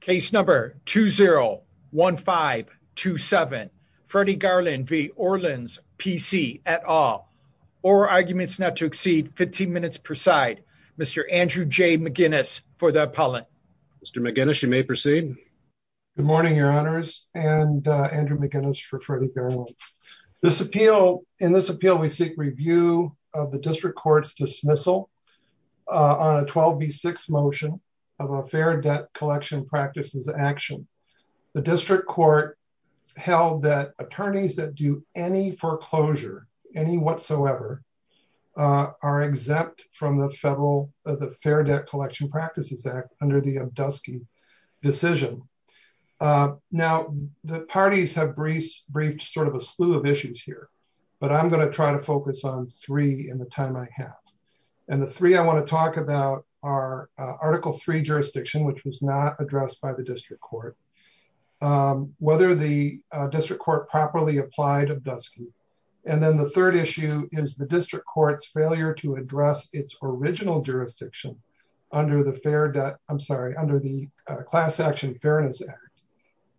case number 201527 Freddie Garland v. Orlans PC at all or arguments not to exceed 15 minutes per side Mr. Andrew J. McGinnis for the appellant Mr. McGinnis you may proceed good morning your honors and uh Andrew McGinnis for Freddie Garland this appeal in this appeal we seek review of the action the district court held that attorneys that do any foreclosure any whatsoever are exempt from the federal the fair debt collection practices act under the abdusky decision now the parties have briefed sort of a slew of issues here but i'm going to try to focus on three in the time i have and the three i want to talk about are article three jurisdiction which was not addressed by the district court whether the district court properly applied abdusky and then the third issue is the district court's failure to address its original jurisdiction under the fair debt i'm sorry under the class action fairness act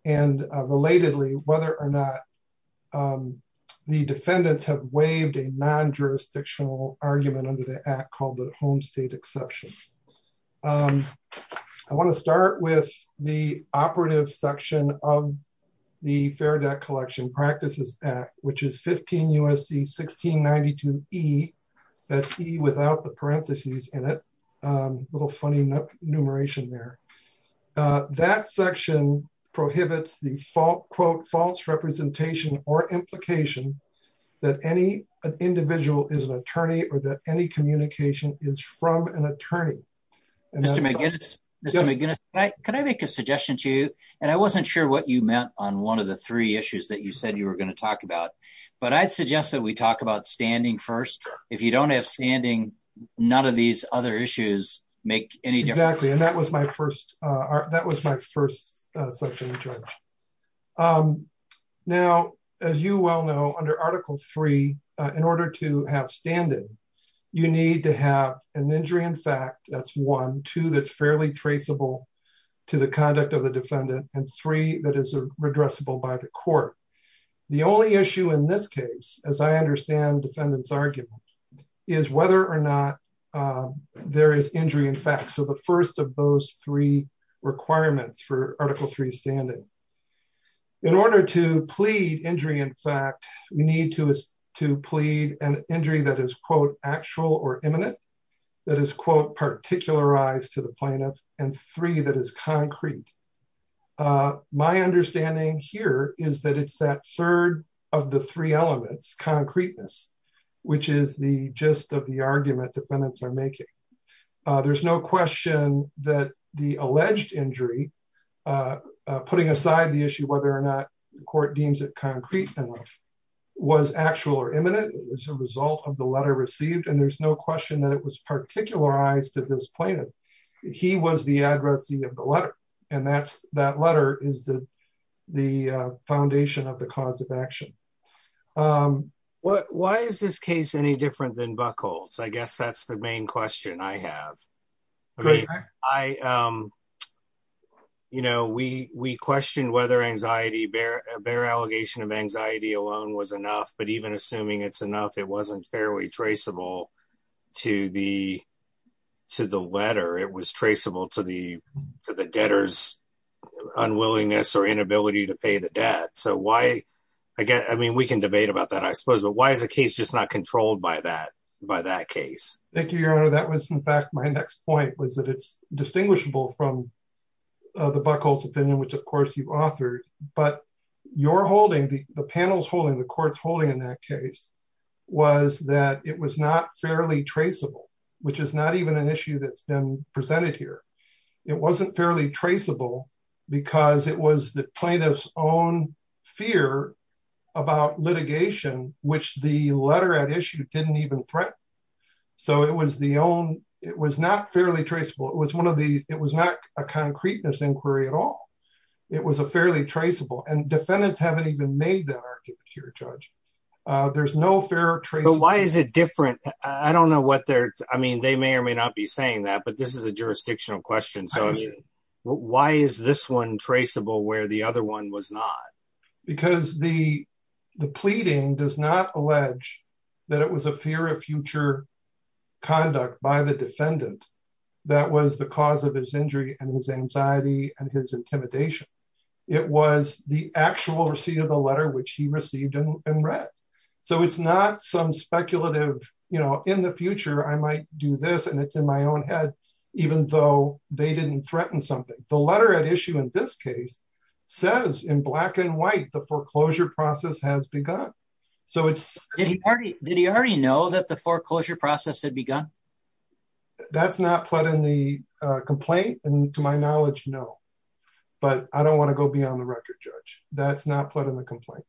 and relatedly whether or not the defendants have waived a non-jurisdictional argument under the act called the home state exception um i want to start with the operative section of the fair debt collection practices act which is 15 usc 1692 e that's e without the parentheses in it a little funny enumeration there uh that section prohibits the fault quote false representation or implication that any an individual is an attorney or that any communication is from an attorney and mr mcginnis mr mcginnis right could i make a suggestion to you and i wasn't sure what you meant on one of the three issues that you said you were going to talk about but i'd suggest that we talk about standing first if you don't have standing none of these other issues make any exactly and that was my first uh that was my first uh section um now as you well know under article three in order to have standing you need to have an injury in fact that's one two that's fairly traceable to the conduct of the defendant and three that is a redressable by the court the only issue in this case as i understand defendant's argument is whether or not there is injury in fact so the first of those three requirements for article three standing in order to plead injury in fact we need to to plead an injury that is quote actual or imminent that is quote particularized to the plaintiff and three that is concrete uh my understanding here is that it's that third of the three elements concreteness which is the gist of the argument defendants are making uh there's no question that the alleged injury uh putting aside the issue whether or not the court deems it concrete enough was actual or imminent it was a result of the letter received and there's no question that it was particularized to this plaintiff he was the addressee of the letter and that's that letter is the the foundation of the cause of main question i have i um you know we we questioned whether anxiety bear a bear allegation of anxiety alone was enough but even assuming it's enough it wasn't fairly traceable to the to the letter it was traceable to the to the debtor's unwillingness or inability to pay the debt so why again i mean we can debate about that i suppose but why is the case just not controlled by that by that case thank you your honor that was in fact my next point was that it's distinguishable from uh the buck holds opinion which of course you've authored but you're holding the panel's holding the court's holding in that case was that it was not fairly traceable which is not even an issue that's been presented here it wasn't fairly traceable because it was the issue didn't even threaten so it was the own it was not fairly traceable it was one of these it was not a concreteness inquiry at all it was a fairly traceable and defendants haven't even made that argument here judge uh there's no fair trace but why is it different i don't know what they're i mean they may or may not be saying that but this is a jurisdictional question so why is this one traceable where the other one was not because the the pleading does not allege that it was a fear of future conduct by the defendant that was the cause of his injury and his anxiety and his intimidation it was the actual receipt of the letter which he received and read so it's not some speculative you know in the future i might do this and it's in my own head even though they didn't threaten something the letter at issue in this case says in black and did he already know that the foreclosure process had begun that's not put in the complaint and to my knowledge no but i don't want to go beyond the record judge that's not put in the complaint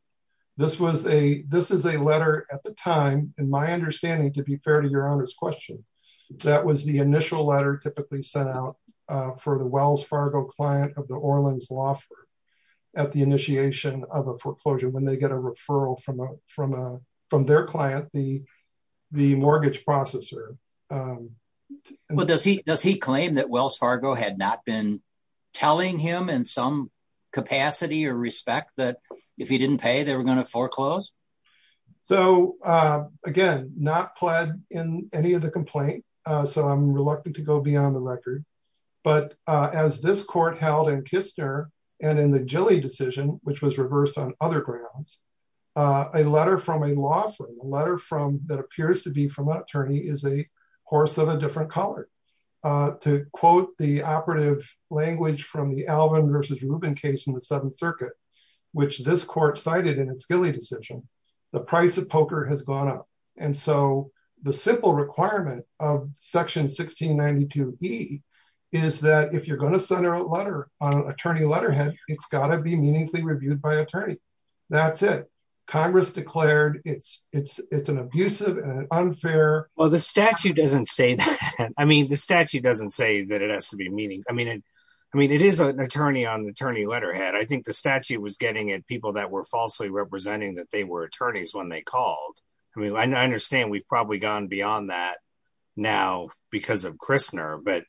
this was a this is a letter at the time in my understanding to be fair to your honor's question that was the initial letter typically sent out uh for the wells fargo client of the orleans law at the initiation of a foreclosure when they get a referral from a from a from their client the the mortgage processor but does he does he claim that wells fargo had not been telling him in some capacity or respect that if he didn't pay they were going to foreclose so uh again not pled in any of the complaint uh so i'm reluctant to go beyond the record but uh as this court held in kistner and in the gilly decision which was reversed on other grounds a letter from a law firm a letter from that appears to be from an attorney is a horse of a different color uh to quote the operative language from the alvin versus rubin case in the seventh circuit which this court cited in its gilly decision the price of poker has gone up and so the simple requirement of section 1692 e is that if you're going to send a letter on attorney letterhead it's got to be meaningfully reviewed by attorney that's it congress declared it's it's it's an abusive and unfair well the statute doesn't say that i mean the statute doesn't say that it has to be meaning i mean i mean it is an attorney on the attorney letterhead i think the statute was getting at people that were falsely representing that they were attorneys when they called i mean i understand we've probably gone beyond that now because of christner but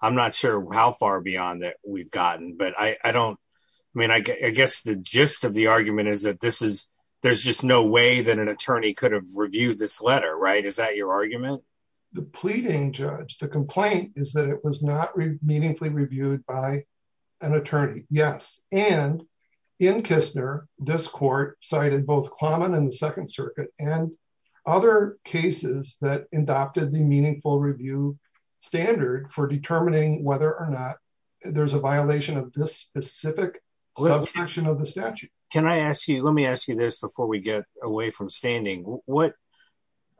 i'm not sure how far beyond that we've gotten but i i don't i mean i guess the gist of the argument is that this is there's just no way that an attorney could have reviewed this letter right is that your argument the pleading judge the complaint is that it was not meaningfully reviewed by an attorney yes and in kissner this court cited both claman and the second circuit and other cases that adopted the meaningful review standard for determining whether or not there's a violation of this specific section of the statute can i ask you let me ask you this before we get away from standing what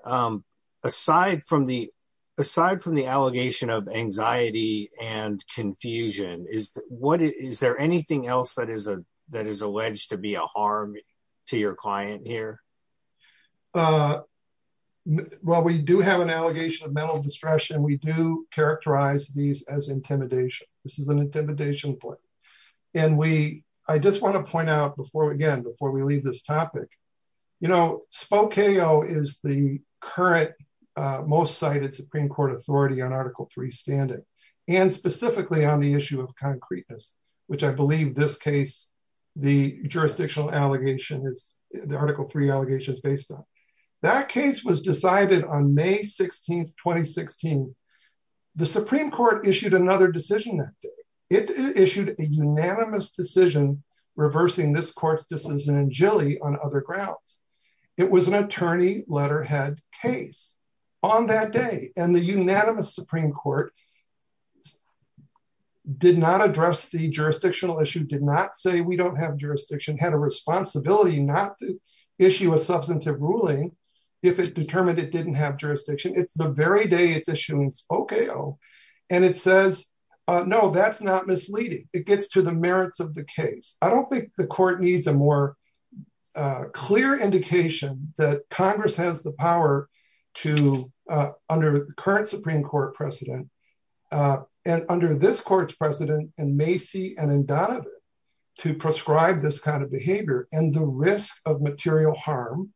um aside from the aside from the allegation of anxiety and confusion is what is there anything else that is a that is alleged to be a harm to your client here uh well we do have an allegation of mental distression we do characterize these as intimidation this is an intimidation point and we i just want to point out before again before we leave this topic you know spoke ao is the current uh most cited supreme court authority on article 3 standing and specifically on the issue of concreteness which i believe this case the jurisdictional allegation is the article 3 allegations based on that case was decided on may 16 2016 the supreme court issued another decision that day it issued a unanimous decision reversing this court's decision in jilly on other grounds it was an attorney letterhead case on that day and the unanimous supreme court did not address the jurisdictional issue did not say we don't have jurisdiction had a responsibility not to issue a substantive ruling if it determined it didn't have jurisdiction it's the very day it's issuance okay oh and it says uh no that's not uh clear indication that congress has the power to uh under the current supreme court precedent uh and under this court's precedent and macy and in donovan to prescribe this kind of behavior and the risk of material harm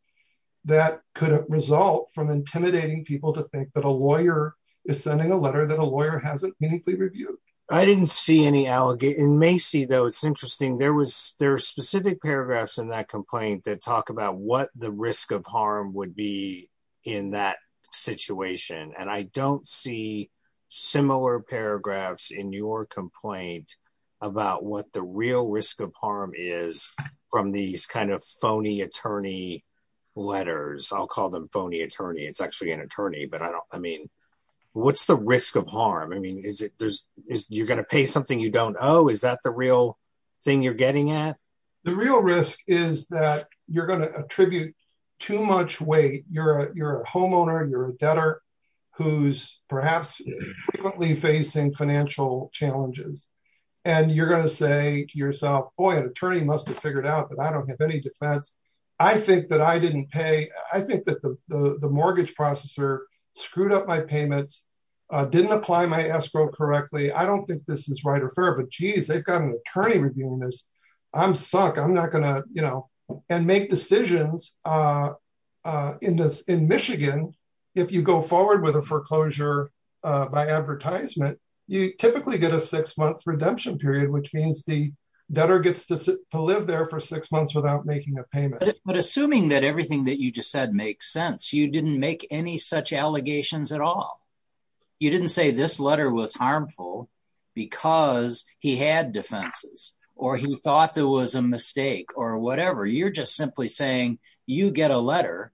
that could result from intimidating people to think that a lawyer is sending a letter that a lawyer hasn't meaningfully reviewed i didn't see any in macy though it's interesting there was there are specific paragraphs in that complaint that talk about what the risk of harm would be in that situation and i don't see similar paragraphs in your complaint about what the real risk of harm is from these kind of phony attorney letters i'll call them phony attorney it's actually an attorney but i don't i mean what's the risk of harm i mean is it there's is you're going to pay something you don't owe is that the real thing you're getting at the real risk is that you're going to attribute too much weight you're a you're a homeowner you're a debtor who's perhaps frequently facing financial challenges and you're going to say to yourself boy an attorney must have figured out that i don't have any defense i think that i don't think this is right or fair but jeez they've got an attorney reviewing this i'm sunk i'm not gonna you know and make decisions uh uh in this in michigan if you go forward with a foreclosure by advertisement you typically get a six month redemption period which means the debtor gets to live there for six months without making a payment but assuming that everything that you just said makes sense you didn't make any such allegations at all you didn't say this letter was harmful because he had defenses or he thought there was a mistake or whatever you're just simply saying you get a letter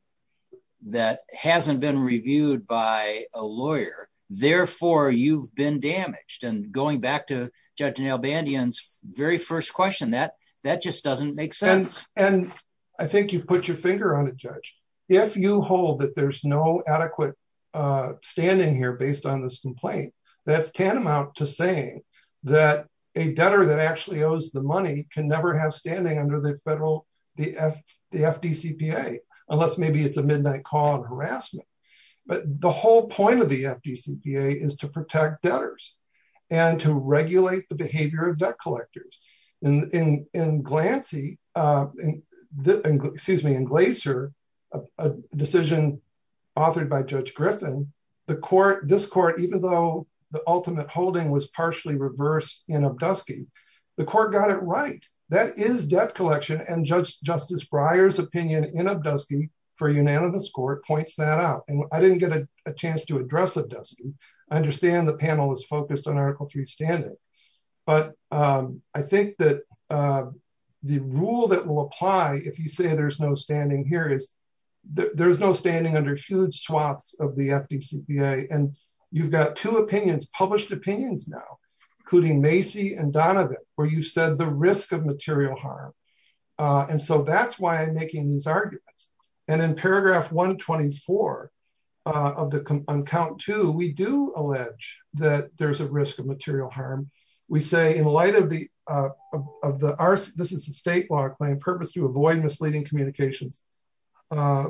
that hasn't been reviewed by a lawyer therefore you've been damaged and going back to judge neil bandian's very first question that that just doesn't make sense and i think you put your finger on it judge if you hold that there's no adequate uh standing here based on this complaint that's tantamount to saying that a debtor that actually owes the money can never have standing under the federal the f the fdcpa unless maybe it's a midnight call and harassment but the whole point of the fdcpa is to protect debtors and to regulate the behavior of judge griffin the court this court even though the ultimate holding was partially reversed in abdusky the court got it right that is debt collection and judge justice bryer's opinion in abdusky for unanimous court points that out and i didn't get a chance to address abdusky i understand the panel is focused on article 3 standing but um i think that uh the rule that will apply if you say there's no standing here is there's no standing under huge swaths of the fdcpa and you've got two opinions published opinions now including macy and donovan where you said the risk of material harm uh and so that's why i'm making these arguments and in paragraph 124 uh of the on count two we do allege that there's a risk of material harm we say in light of the uh of the r this is a state law claim purpose to avoid misleading communications uh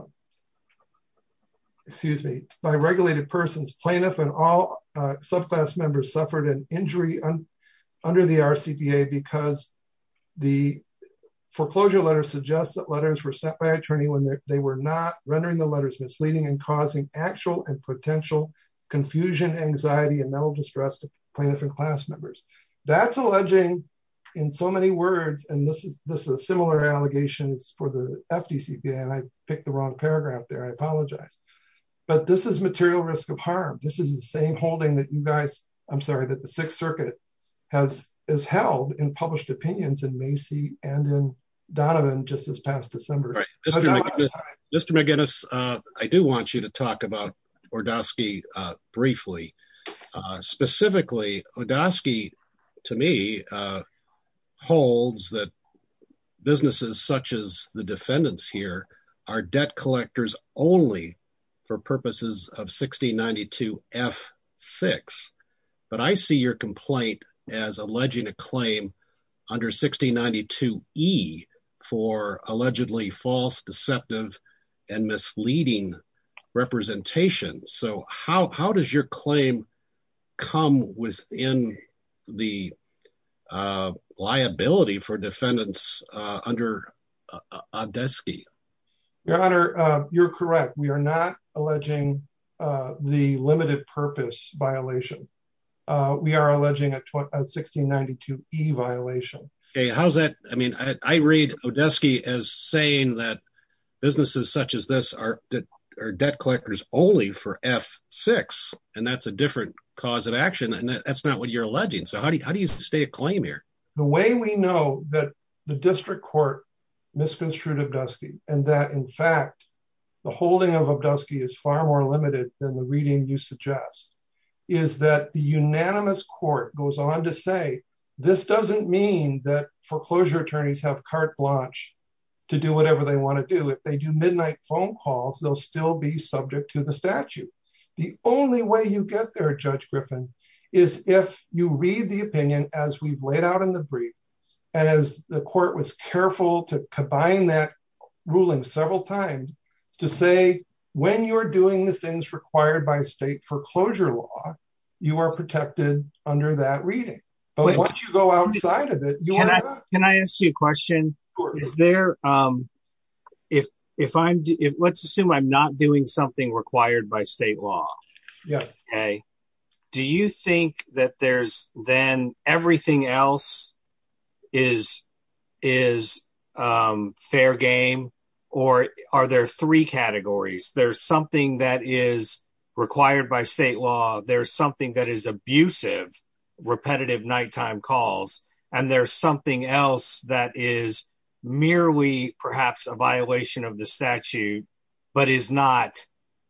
excuse me by regulated persons plaintiff and all uh subclass members suffered an injury under the rcpa because the foreclosure letter suggests that letters were sent by attorney when they were not rendering the letters misleading and causing actual and potential confusion anxiety and mental distress to plaintiff and class members that's alleging in so many words and this is this is similar allegations for the fdcpa and i picked the wrong paragraph there i apologize but this is material risk of harm this is the same holding that you guys i'm sorry that the sixth circuit has is held in published opinions in macy and in donovan just past december right mr mcginnis uh i do want you to talk about ordosky uh briefly uh specifically odosky to me uh holds that businesses such as the defendants here are debt collectors only for purposes of 1692 f6 but i see your complaint as alleging a claim under 1692 e for allegedly false deceptive and misleading representation so how how does your claim come within the liability for defendants uh under odesky your honor uh you're correct we are not alleging uh the limited purpose violation uh we are alleging a 1692 e violation okay how's that i mean i read odesky as saying that businesses such as this are that are debt collectors only for f6 and that's a different cause of action and that's not what you're alleging so how do you how do you stay a claim here the way we know that the district court misconstrued obdusky and that in fact the holding of obdusky is far more limited than the reading you suggest is that the unanimous court goes on to say this doesn't mean that foreclosure attorneys have carte blanche to do they want to do if they do midnight phone calls they'll still be subject to the statute the only way you get there judge griffin is if you read the opinion as we've laid out in the brief as the court was careful to combine that ruling several times to say when you're doing the things required by state foreclosure law you are protected under that reading but once you go outside of it can i ask you a question is there um if if i'm if let's assume i'm not doing something required by state law yes okay do you think that there's then everything else is is um fair game or are there three categories there's something that is required by state law there's something that is abusive repetitive nighttime calls and there's something else that is merely perhaps a violation of the statute but is not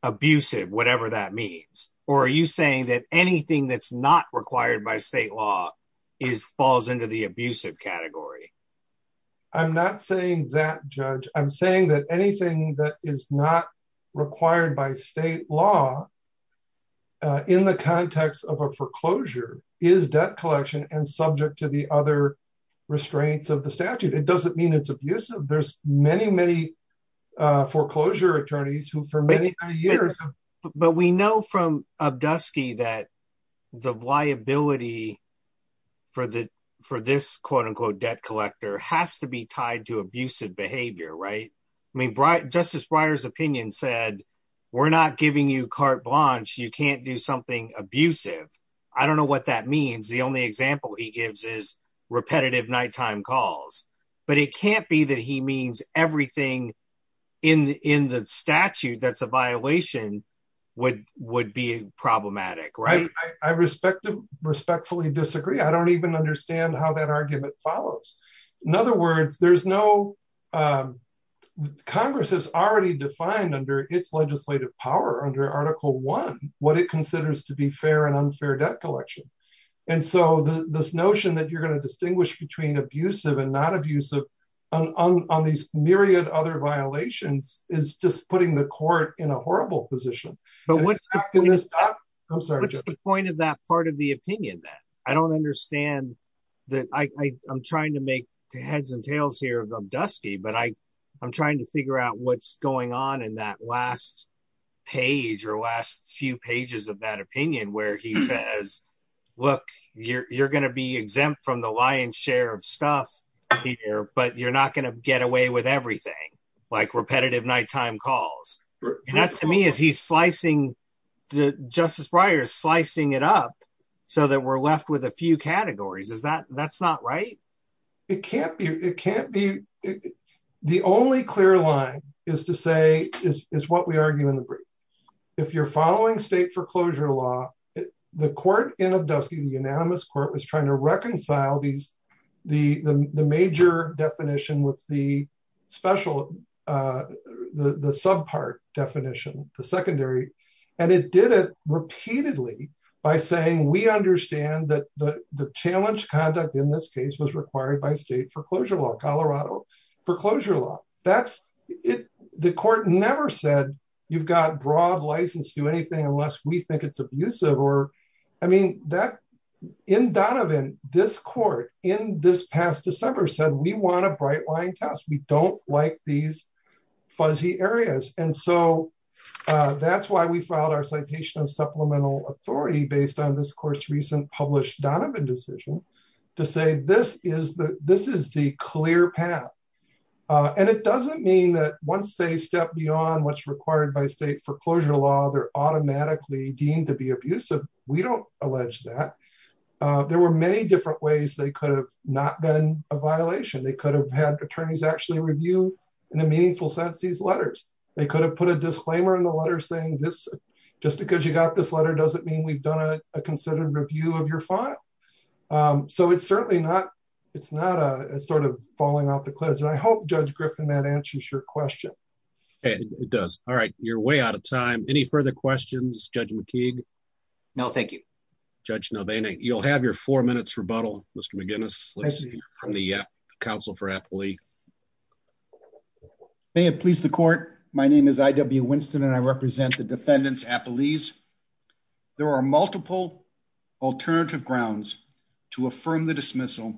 abusive whatever that means or are you saying that anything that's not required by state law is falls into the abusive category i'm not saying that judge i'm saying that anything that is not required by state law uh in the context of a foreclosure is debt collection and subject to the other restraints of the statute it doesn't mean it's abusive there's many many uh foreclosure attorneys who for many years but we know from abdusky that the liability for the for this quote-unquote debt collector has to be tied to abusive behavior right i mean justice brier's opinion said we're not giving you carte blanche you can't do something abusive i don't know what that means the only example he gives is repetitive nighttime calls but it can't be that he means everything in in the statute that's a violation would would be problematic right i respect to respectfully disagree i don't even understand how that argument follows in other words there's no um congress has already defined under its legislative power under article one what it considers to be fair and unfair debt collection and so the this notion that you're going to distinguish between abusive and not abusive on on these myriad other violations is just putting the court in a horrible position but what's in this i'm sorry what's the point of that part of the i'm trying to figure out what's going on in that last page or last few pages of that opinion where he says look you're you're going to be exempt from the lion's share of stuff here but you're not going to get away with everything like repetitive nighttime calls and that to me is he's slicing the justice briars slicing it up so that we're left with a few categories is that that's not right it can't be it can't be the only clear line is to say is is what we argue in the brief if you're following state foreclosure law the court in abdusking the unanimous court was trying to reconcile these the the major definition with the special uh the the subpart definition the secondary and it did it repeatedly by saying we understand that the the challenge conduct in this case was required by state foreclosure law colorado foreclosure law that's it the court never said you've got broad license to anything unless we think it's abusive or i mean that in donovan this court in this past december said we want a bright line test we don't like these fuzzy areas and so uh that's why we filed our citation of supplemental authority based on this course recent published donovan decision to say this is the this is the clear path uh and it doesn't mean that once they step beyond what's required by state foreclosure law they're automatically deemed to be abusive we don't allege that uh there were many different ways they could have not been a violation they could have had attorneys actually review in a meaningful sense these letters they could have put a disclaimer in the letter saying this just because you got this letter doesn't mean we've done a considered review of your file um so it's certainly not it's not a sort of falling off the cliff and i hope judge griffin that answers your question hey it does all right you're way out of time any further questions judge mckeague no thank you judge novana you'll have your four minutes rebuttal mr mcginnis from the council for appley may it please the court my name is i.w winston and i represent the defendants appley's there are multiple alternative grounds to affirm the dismissal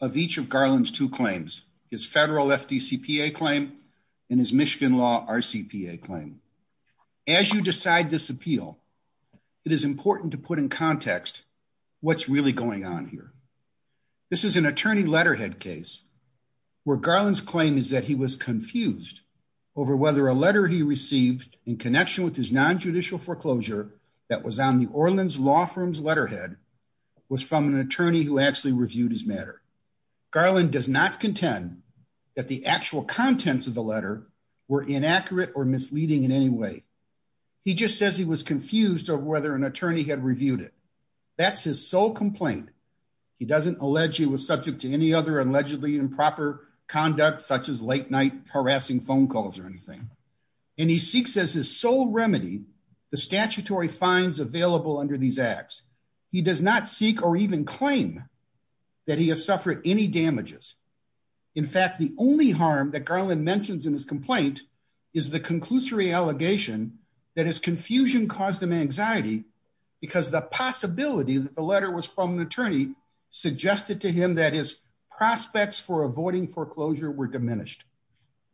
of each of garland's two claims his federal fdcpa claim and his michigan law rcpa claim as you decide this appeal it is where garland's claim is that he was confused over whether a letter he received in connection with his non-judicial foreclosure that was on the orleans law firm's letterhead was from an attorney who actually reviewed his matter garland does not contend that the actual contents of the letter were inaccurate or misleading in any way he just says he was confused over whether an attorney had reviewed it that's his sole complaint he doesn't allege he was subject to any other allegedly improper conduct such as late night harassing phone calls or anything and he seeks as his sole remedy the statutory fines available under these acts he does not seek or even claim that he has suffered any damages in fact the only harm that garland mentions in his complaint is the conclusory allegation that his confusion caused him anxiety because the possibility that the letter was from an attorney suggested to him that his prospects for avoiding foreclosure were diminished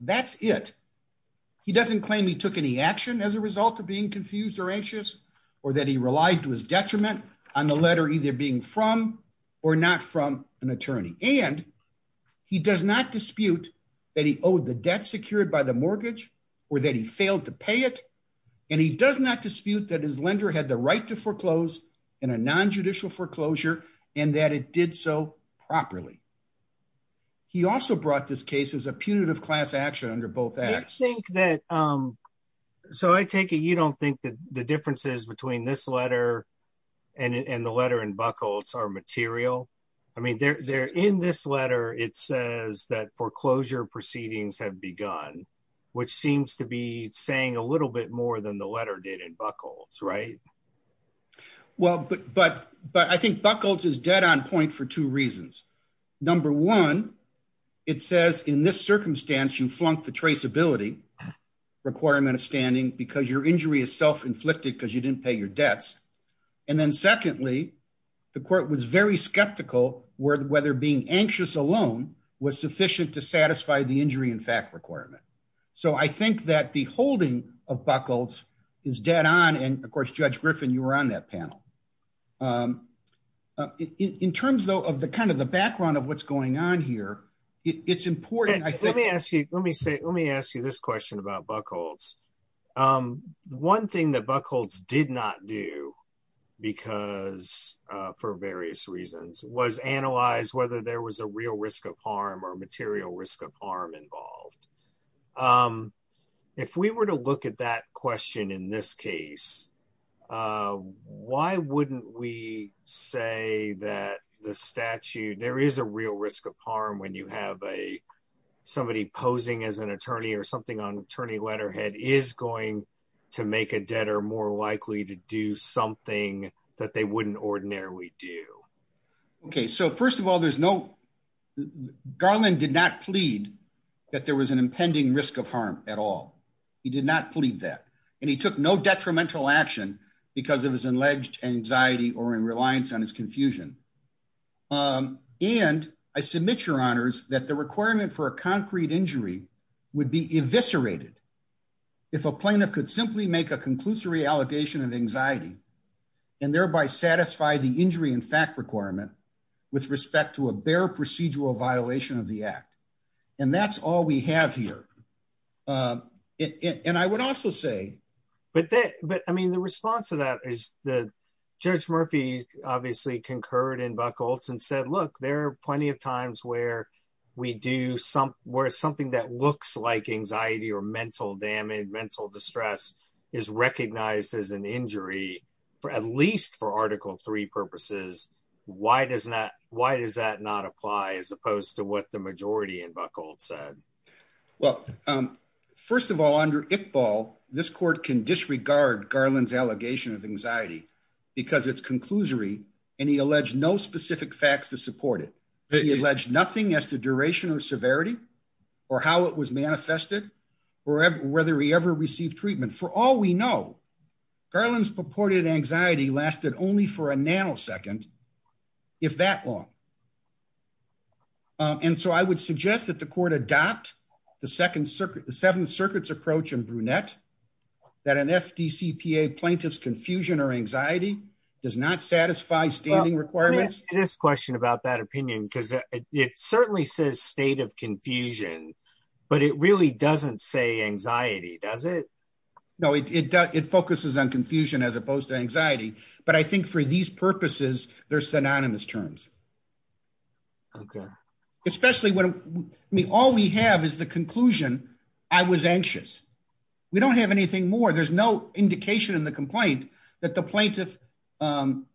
that's it he doesn't claim he took any action as a result of being confused or anxious or that he relied to his detriment on the letter either being from or not from an attorney and he does not dispute that he owed debt secured by the mortgage or that he failed to pay it and he does not dispute that his lender had the right to foreclose in a non-judicial foreclosure and that it did so properly he also brought this case as a punitive class action under both acts i think that um so i take it you don't think that the differences between this letter and and the letter and buckles are begun which seems to be saying a little bit more than the letter did in buckles right well but but but i think buckles is dead on point for two reasons number one it says in this circumstance you flunked the traceability requirement of standing because your injury is self-inflicted because you didn't pay your debts and then secondly the court was very skeptical where whether being anxious alone was sufficient to satisfy the injury in fact requirement so i think that the holding of buckles is dead on and of course judge griffin you were on that panel um in terms though of the kind of the background of what's going on here it's important i think let me ask you let me say let me ask you this question about buckles um one thing that buck did not do because uh for various reasons was analyzed whether there was a real risk of harm or material risk of harm involved um if we were to look at that question in this case why wouldn't we say that the statute there is a real risk of harm when you have a somebody posing as an attorney or something on attorney letterhead is going to make a debtor likely to do something that they wouldn't ordinarily do okay so first of all there's no garland did not plead that there was an impending risk of harm at all he did not plead that and he took no detrimental action because of his alleged anxiety or in reliance on his confusion um and i submit your honors that the requirement for a concrete injury would be eviscerated if a plaintiff could simply make a conclusory allegation of anxiety and thereby satisfy the injury in fact requirement with respect to a bare procedural violation of the act and that's all we have here um and i would also say but that but i mean the response to that is the judge murphy obviously concurred in buckles and said look there are plenty of times where we do some where something that looks like anxiety or mental damage mental distress is recognized as an injury for at least for article three purposes why does that why does that not apply as opposed to what the majority in buckled said well um first of all under it ball this court can disregard garland's allegation of anxiety because it's conclusory and he alleged no specific facts to support it he alleged nothing as to duration or severity or how it was manifested or whether he ever received treatment for all we know garland's purported anxiety lasted only for a nanosecond if that long um and so i would suggest that the court adopt the second circuit the seventh circuit's approach and brunette that an fdcpa plaintiff's confusion or anxiety does not satisfy standing requirements this question about that says state of confusion but it really doesn't say anxiety does it no it does it focuses on confusion as opposed to anxiety but i think for these purposes they're synonymous terms okay especially when i mean all we have is the conclusion i was anxious we don't have anything more there's no indication in the complaint that the plaintiff um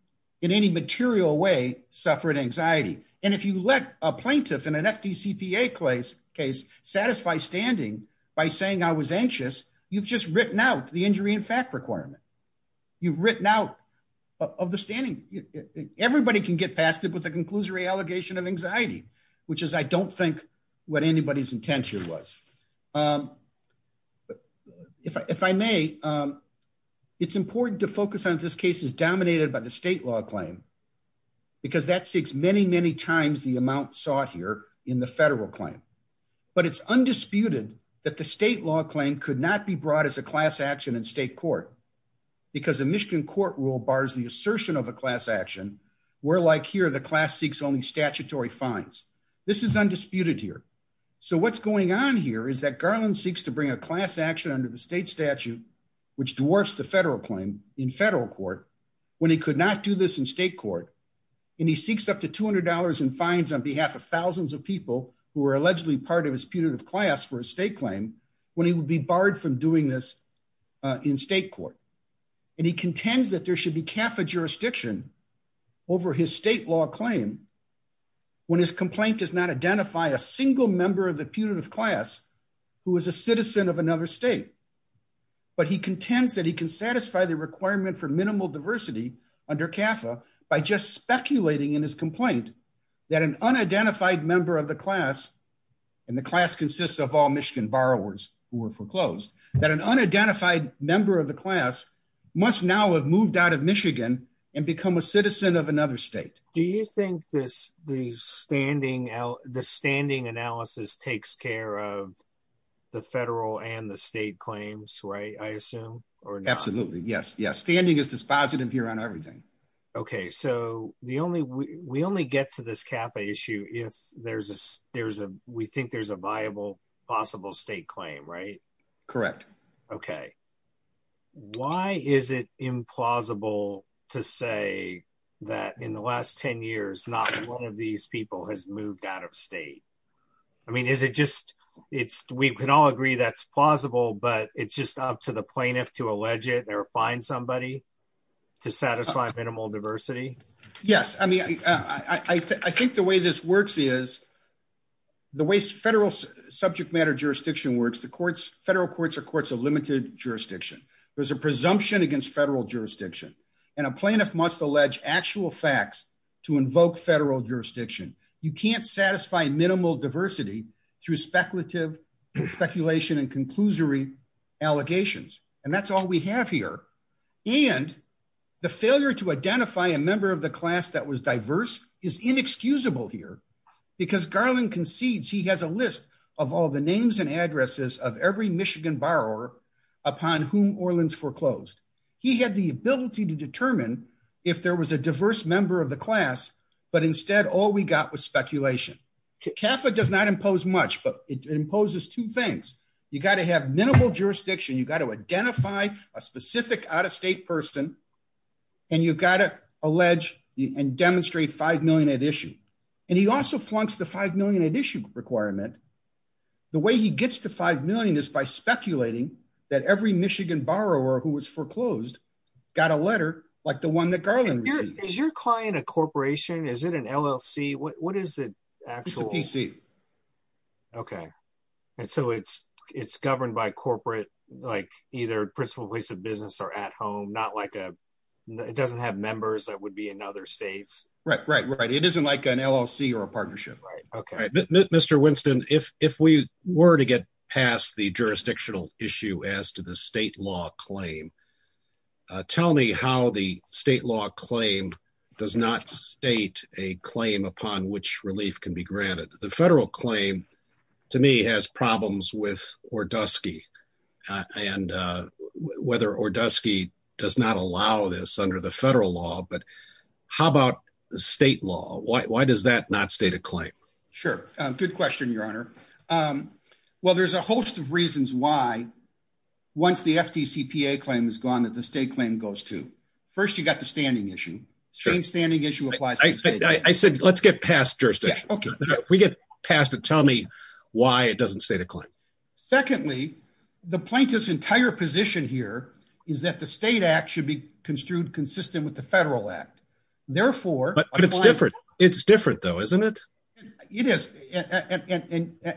in any material way suffered anxiety and if you let a plaintiff in an fdcpa case case satisfy standing by saying i was anxious you've just written out the injury in fact requirement you've written out of the standing everybody can get past it with the conclusory allegation of anxiety which is i don't think what anybody's intention was um if i if i may um it's important to focus on this case is dominated by the state law claim because that seeks many many times the amount sought here in the federal claim but it's undisputed that the state law claim could not be brought as a class action in state court because the michigan court rule bars the assertion of a class action where like here the class seeks only statutory fines this is undisputed here so what's going on here is that garland seeks to bring a class action under the state statute which dwarfs the federal claim in federal court when he could not do this in state court and he seeks up to two hundred dollars in fines on behalf of thousands of people who are allegedly part of his punitive class for a state claim when he would be barred from doing this in state court and he contends that there should be kappa jurisdiction over his state law claim when his complaint does not identify a single member of the punitive class who is a citizen of another state but he contends that he can satisfy the requirement for minimal diversity under kappa by just speculating in his complaint that an unidentified member of the class and the class consists of all michigan borrowers who were foreclosed that an unidentified member of the class must now have moved out of michigan and become a citizen of another state do you think this the standing out the standing analysis takes care of the federal and the state claims right i assume or absolutely yes yes standing is dispositive here on everything okay so the only we only get to this kappa issue if there's a there's a we think there's a viable possible state claim right correct okay why is it implausible to say that in the last 10 years not one of these people has moved out of state i mean is it just it's we can all agree that's plausible but it's just up to the plaintiff to allege it or find somebody to satisfy minimal diversity yes i mean i i think the way this works is the way federal subject matter jurisdiction works the courts federal courts are courts of limited jurisdiction there's a presumption against federal jurisdiction and a plaintiff must allege actual facts to invoke federal jurisdiction you can't satisfy minimal diversity through speculative speculation and conclusory allegations and that's all we have here and the failure to identify a member of the class that was diverse is inexcusable here because garland concedes he has a list of all the names and addresses of every michigan borrower upon whom orleans foreclosed he had the ability to determine if there was a diverse member of the class but instead all we got was speculation kappa does not impose much but it imposes two things you got to have minimal jurisdiction you got to identify a specific out-of-state person and you've got to allege and demonstrate five million at issue and he also flunks the five million at issue requirement the way he gets to five million is by speculating that every michigan borrower who was foreclosed got a letter like the one that garland is your client a corporation is it an llc what is it it's a pc okay and so it's it's governed by corporate like either principal place of business or at home not like a it doesn't have members that would be in other states right right right it isn't like an llc or a partnership right okay mr winston if if we were to get past the jurisdictional issue as to the state law claim tell me how the state law claim does not state a claim upon which relief can be granted the federal claim to me has problems with or dusky and uh whether or dusky does not allow this under the federal law but how about the state law why does that not state a claim sure uh good question your honor um well there's a host of reasons why once the ftcpa claim is gone that the state claim goes to first you got the standing issue same standing issue applies i said let's get past jurisdiction okay if we get past it tell me why it doesn't state a claim secondly the plaintiff's entire position here is that the state act should be construed consistent with the federal act therefore but it's different it's different though isn't it it is and and and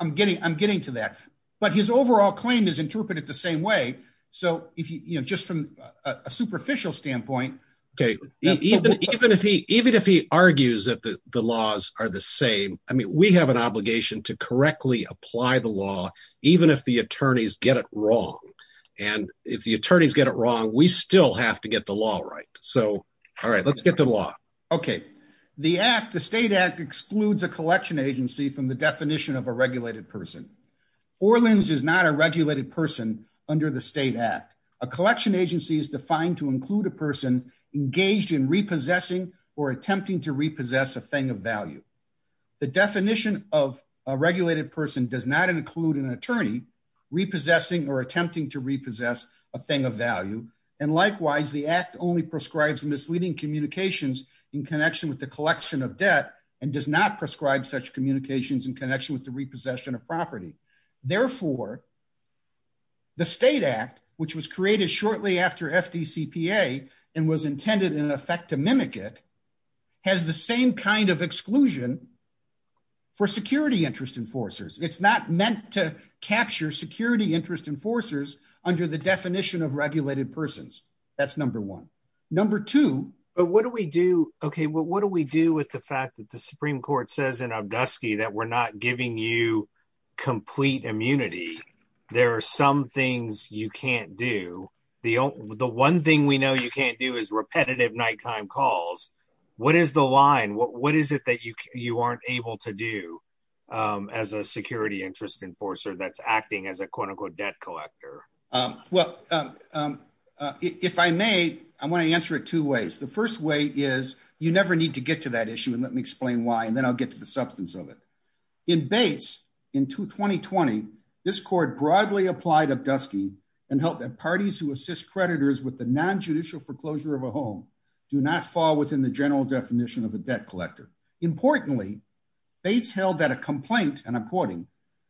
i'm getting i'm getting to that but his overall claim is interpreted the same way so if you know just from a superficial standpoint okay even even if he even if he argues that the the laws are the same i mean we have an obligation to correctly apply the law even if the attorneys get it wrong and if the attorneys get it wrong we still have to get the law right so all right let's get the law okay the act the state act excludes a collection agency from the definition of a regulated person orlins is not a regulated person under the state act a collection agency is defined to include a person engaged in repossessing or attempting to repossess a thing of value the definition of a regulated person does not include an attorney repossessing or attempting to repossess a thing of value and likewise the act only prescribes misleading communications in connection with the collection of debt and does not prescribe such communications in connection with the repossession of property therefore the state act which was created shortly after fdcpa and was intended in effect to mimic it has the same kind of exclusion for security interest enforcers it's not meant to capture security interest enforcers under the definition of regulated persons that's number one number two but what do we do okay what do we do with the fact that the supreme court says in abduski that we're not giving you complete immunity there are some things you can't do the only the one thing we know you can't do is repetitive nighttime calls what is the line what what is it that you you aren't able to do as a security interest enforcer that's acting as a quote-unquote debt collector well if i may i want to answer it two ways the first way is you never need to get to that issue and let me explain why and then i'll get to the substance of it in bates in 2020 this court broadly applied abduski and helped at parties who assist creditors with the non-judicial foreclosure of a home do not fall within the general definition of a debt collector importantly bates held that complaint and i'm quoting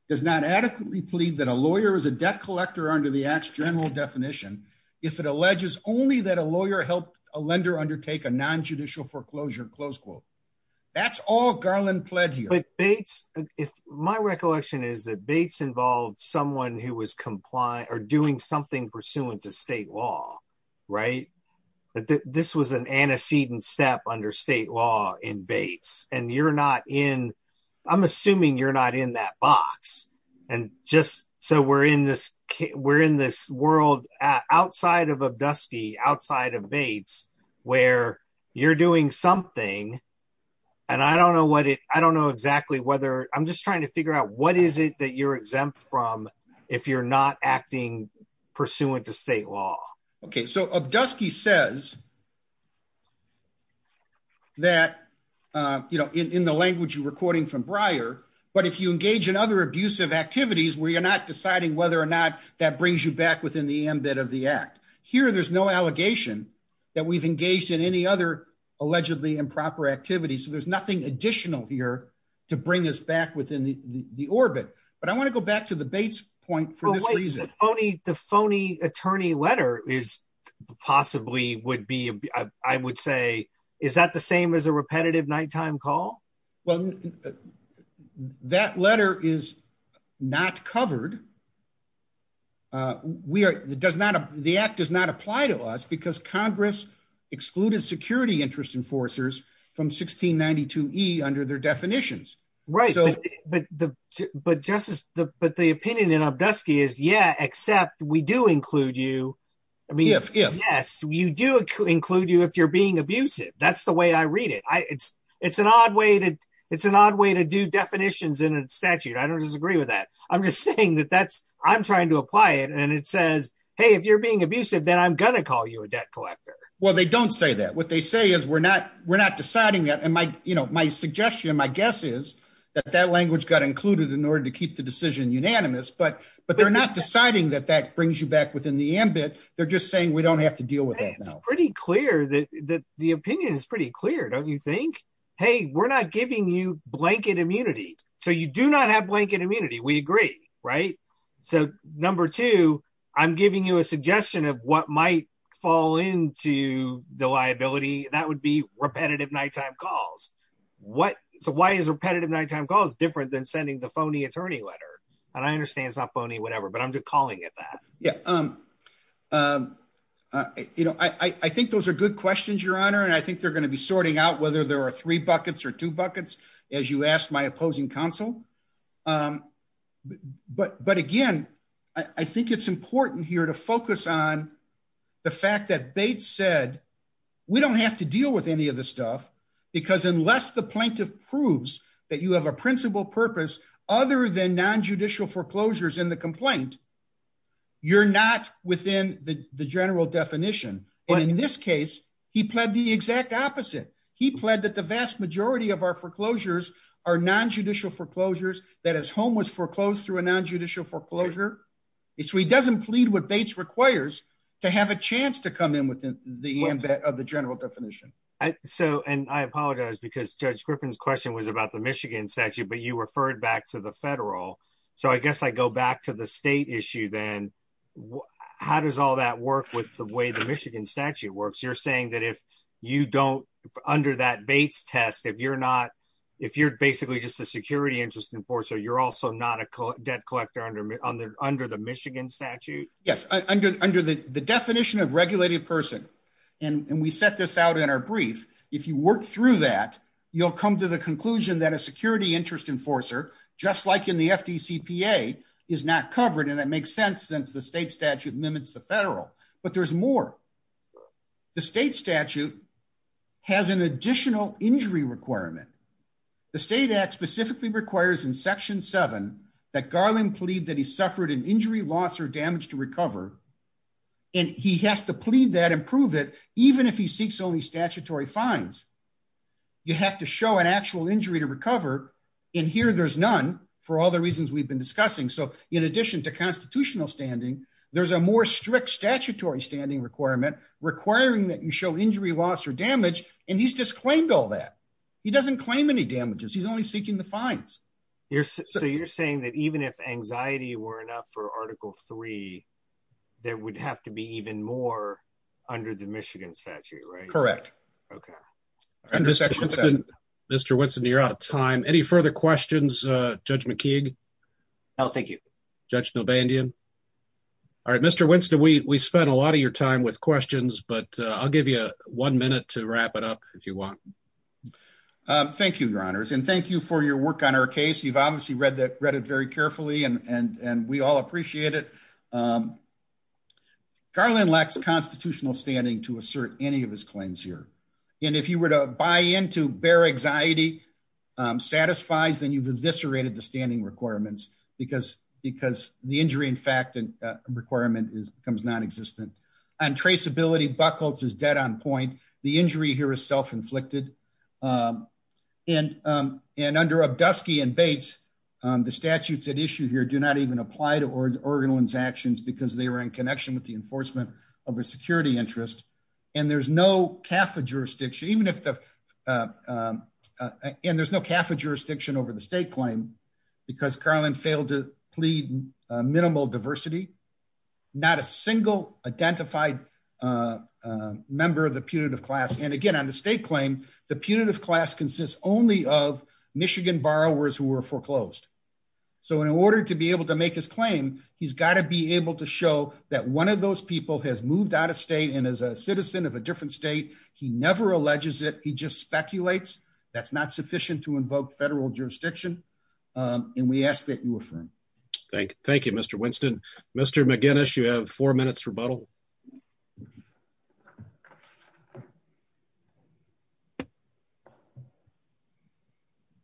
does not adequately plead that a lawyer is a debt collector under the act's general definition if it alleges only that a lawyer helped a lender undertake a non-judicial foreclosure close quote that's all garland pled here bates if my recollection is that bates involved someone who was compliant or doing something pursuant to state law right this was an antecedent step under state law in bates and you're not in i'm assuming you're not in that box and just so we're in this we're in this world outside of abduski outside of bates where you're doing something and i don't know what it i don't know exactly whether i'm just trying to figure out what is it that you're exempt from if you're not acting pursuant to state law okay so abduski says that uh you know in in the language you're recording from briar but if you engage in other abusive activities where you're not deciding whether or not that brings you back within the ambit of the act here there's no allegation that we've engaged in any other allegedly improper activities so there's nothing additional here to bring us back within the the orbit but i want to go back to the bates point for this reason phony the phony attorney letter is possibly would be i would say is that the same as a repetitive nighttime call well that letter is not covered uh we are does not the act does not apply to us because congress excluded security interest enforcers from 1692e under their definitions right so but the but justice the but the opinion is yeah except we do include you i mean if yes you do include you if you're being abusive that's the way i read it i it's it's an odd way to it's an odd way to do definitions in a statute i don't disagree with that i'm just saying that that's i'm trying to apply it and it says hey if you're being abusive then i'm gonna call you a debt collector well they don't say that what they say is we're not we're not deciding that and my you know my suggestion my guess is that that but they're not deciding that that brings you back within the ambit they're just saying we don't have to deal with that now it's pretty clear that that the opinion is pretty clear don't you think hey we're not giving you blanket immunity so you do not have blanket immunity we agree right so number two i'm giving you a suggestion of what might fall into the liability that would be repetitive nighttime calls what so why is repetitive nighttime calls different than sending the phony attorney letter and i understand it's not phony whatever but i'm just calling it that yeah um um uh you know i i think those are good questions your honor and i think they're going to be sorting out whether there are three buckets or two buckets as you asked my opposing counsel um but but again i i think it's important here to focus on the fact that bates said we don't have to deal with any of this stuff because unless the plaintiff proves that you have a principal purpose other than non-judicial foreclosures in the complaint you're not within the the general definition and in this case he pled the exact opposite he pled that the vast majority of our foreclosures are non-judicial foreclosures that his home was foreclosed through a non-judicial foreclosure so he doesn't plead what bates requires to have a chance to come in within the ambit of the general definition so and i apologize because judge griffin's question was about the michigan statute but you referred back to the federal so i guess i go back to the state issue then how does all that work with the way the michigan statute works you're saying that if you don't under that bates test if you're not if you're basically just a security interest enforcer you're also not a debt collector under under under the michigan statute yes under under the the definition of regulated person and and we set this out in our brief if you work through that you'll come to the conclusion that a security interest enforcer just like in the fdcpa is not covered and that makes sense since the state statute mimics the federal but there's more the state statute has an additional injury requirement the state act specifically requires in section 7 that garland plead that he suffered an injury loss or damage to recover and he has to plead that improve it even if he seeks only statutory fines you have to show an actual injury to recover and here there's none for all the reasons we've been discussing so in addition to constitutional standing there's a more strict statutory standing requirement requiring that you show injury loss or damage and he's disclaimed all that he doesn't claim any damages he's only seeking the fines you're so you're saying that even if anxiety were enough for article 3 there would have to be even more under the michigan statute right correct okay mr winston you're out of time any further questions uh judge mckeague no thank you judge no bandian all right mr winston we we spent a lot of your time with questions but i'll give you one minute to wrap it up if you want um thank you your honors and thank you for your work on our you've obviously read that read it very carefully and and and we all appreciate it garland lacks constitutional standing to assert any of his claims here and if you were to buy into bear anxiety satisfies then you've eviscerated the standing requirements because because the injury in fact and requirement is becomes non-existent and traceability buckles is dead on point the injury here is self-inflicted um and um and under obdusky and baits um the statutes at issue here do not even apply to or organellan's actions because they were in connection with the enforcement of a security interest and there's no kaffa jurisdiction even if the and there's no kaffa jurisdiction over the state claim because carlin failed to plead minimal diversity not a single identified uh member of the punitive class and again on the claim the punitive class consists only of michigan borrowers who were foreclosed so in order to be able to make his claim he's got to be able to show that one of those people has moved out of state and as a citizen of a different state he never alleges it he just speculates that's not sufficient to invoke federal jurisdiction um and we ask that you affirm thank you mr winston mr mcginnis you have four minutes rebuttal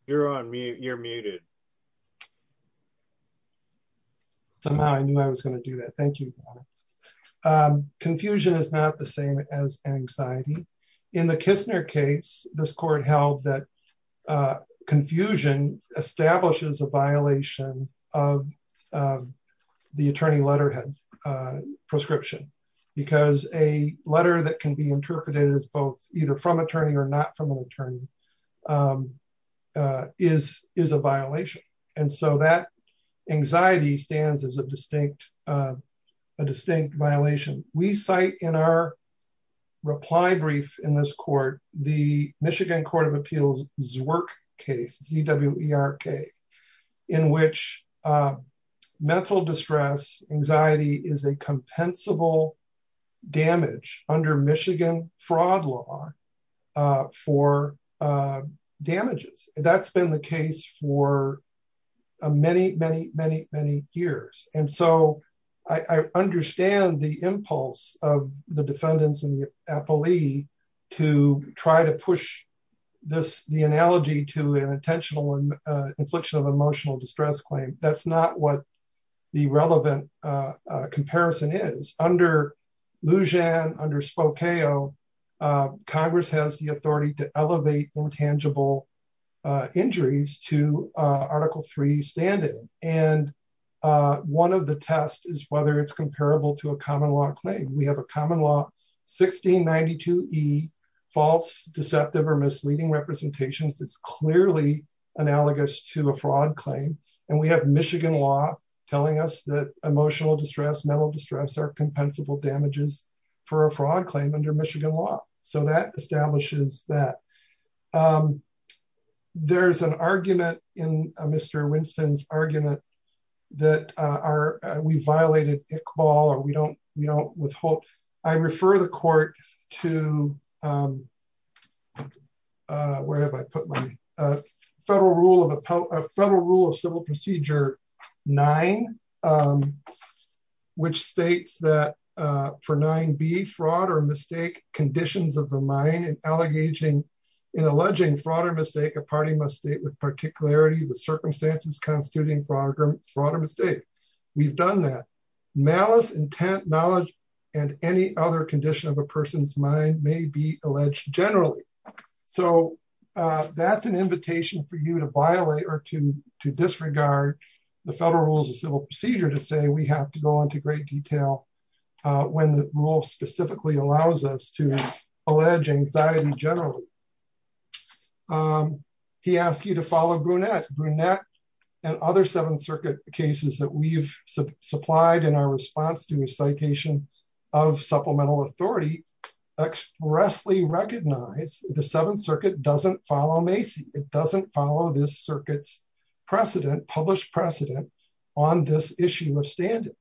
you're on me you're muted somehow i knew i was going to do that thank you um confusion is not the same as anxiety in the kissner case this court held that uh confusion establishes a violation of the attorney letterhead uh prescription because a letter that can be interpreted as both either from attorney or not from an attorney um uh is is a violation and so that anxiety stands as a in this court the michigan court of appeals work case zwerch in which uh mental distress anxiety is a compensable damage under michigan fraud law uh for uh damages that's been the case for many many many many years and so i i understand the impulse of the defendants and the appellee to try to push this the analogy to an intentional infliction of emotional distress claim that's not what the relevant uh comparison is under louisianne under spokeo congress has the article 3 standing and uh one of the tests is whether it's comparable to a common law claim we have a common law 1692 e false deceptive or misleading representations is clearly analogous to a fraud claim and we have michigan law telling us that emotional distress mental distress are compensable damages for a fraud claim under michigan law so that establishes that um there's an argument in mr winston's argument that uh are we violated a call or we don't we don't withhold i refer the court to um uh where have i put my uh federal rule of appellate federal rule of civil procedure nine um which states that uh for nine b fraud or mistake conditions of the allegaging in alleging fraud or mistake a party must state with particularity the circumstances constituting fraud fraud or mistake we've done that malice intent knowledge and any other condition of a person's mind may be alleged generally so uh that's an invitation for you to violate or to to disregard the federal rules of civil procedure to say we have to go into great detail uh when the rule specifically allows us to allege anxiety generally um he asked you to follow brunette brunette and other seventh circuit cases that we've supplied in our response to a citation of supplemental authority expressly recognize the seventh circuit doesn't follow macy it doesn't follow this circuit's precedent published precedent on this issue of standing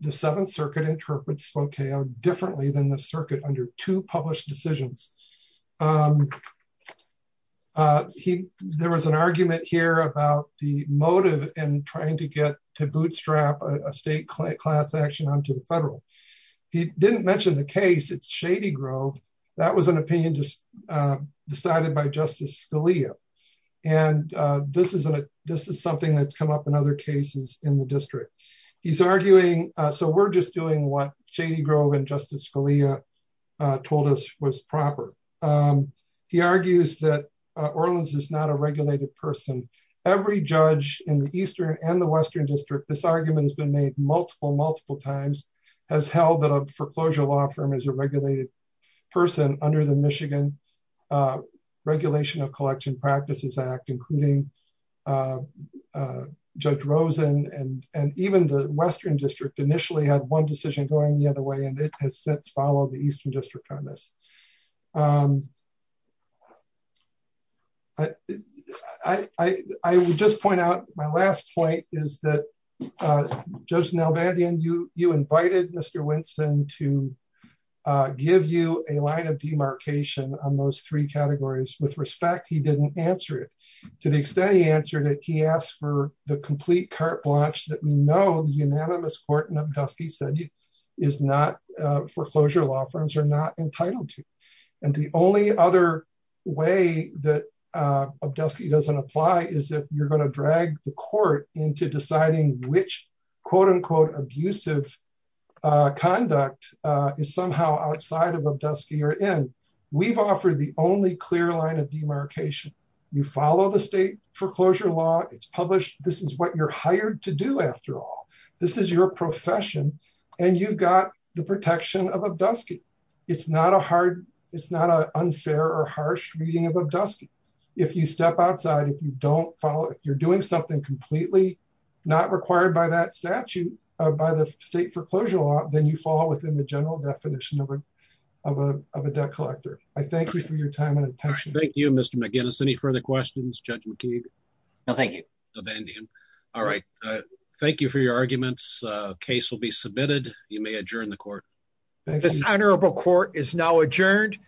the seventh circuit interprets spokane differently than the circuit under two published decisions um uh he there was an argument here about the motive and trying to get to bootstrap a state class action onto the federal he didn't mention the case it's shady grove that was an opinion just uh decided by justice scalia and uh this is a this is something that's come up in other cases in the district he's arguing so we're just doing what shady grove and justice scalia uh told us was proper um he argues that uh orleans is not a regulated person every judge in the eastern and the western district this argument has been made multiple multiple times has held that a foreclosure law firm is a regulated person under the michigan uh regulation of and and even the western district initially had one decision going the other way and it has since followed the eastern district on this um i i i would just point out my last point is that uh judge nel bandian you you invited mr winston to uh give you a line of demarcation on those three categories with respect he didn't answer it to the extent he answered it he asked for the complete carte blanche that we know the unanimous court and obdusky said you is not uh foreclosure law firms are not entitled to and the only other way that uh obdusky doesn't apply is if you're going to drag the court into deciding which quote-unquote abusive uh conduct uh is somehow outside of obdusky or in we've offered the only clear line of demarcation you follow the state foreclosure law it's published this is what you're hired to do after all this is your profession and you've got the protection of obdusky it's not a hard it's not a unfair or harsh reading of obdusky if you step outside if you don't follow if you're doing something completely not required by that statute by the state foreclosure law then you fall within the general definition of a of a debt collector i thank you for your time and attention thank you mr mcginnis any further questions judge mckeague no thank you no bandian all right uh thank you for your arguments uh case will be submitted you may adjourn the court the honorable court is now adjourned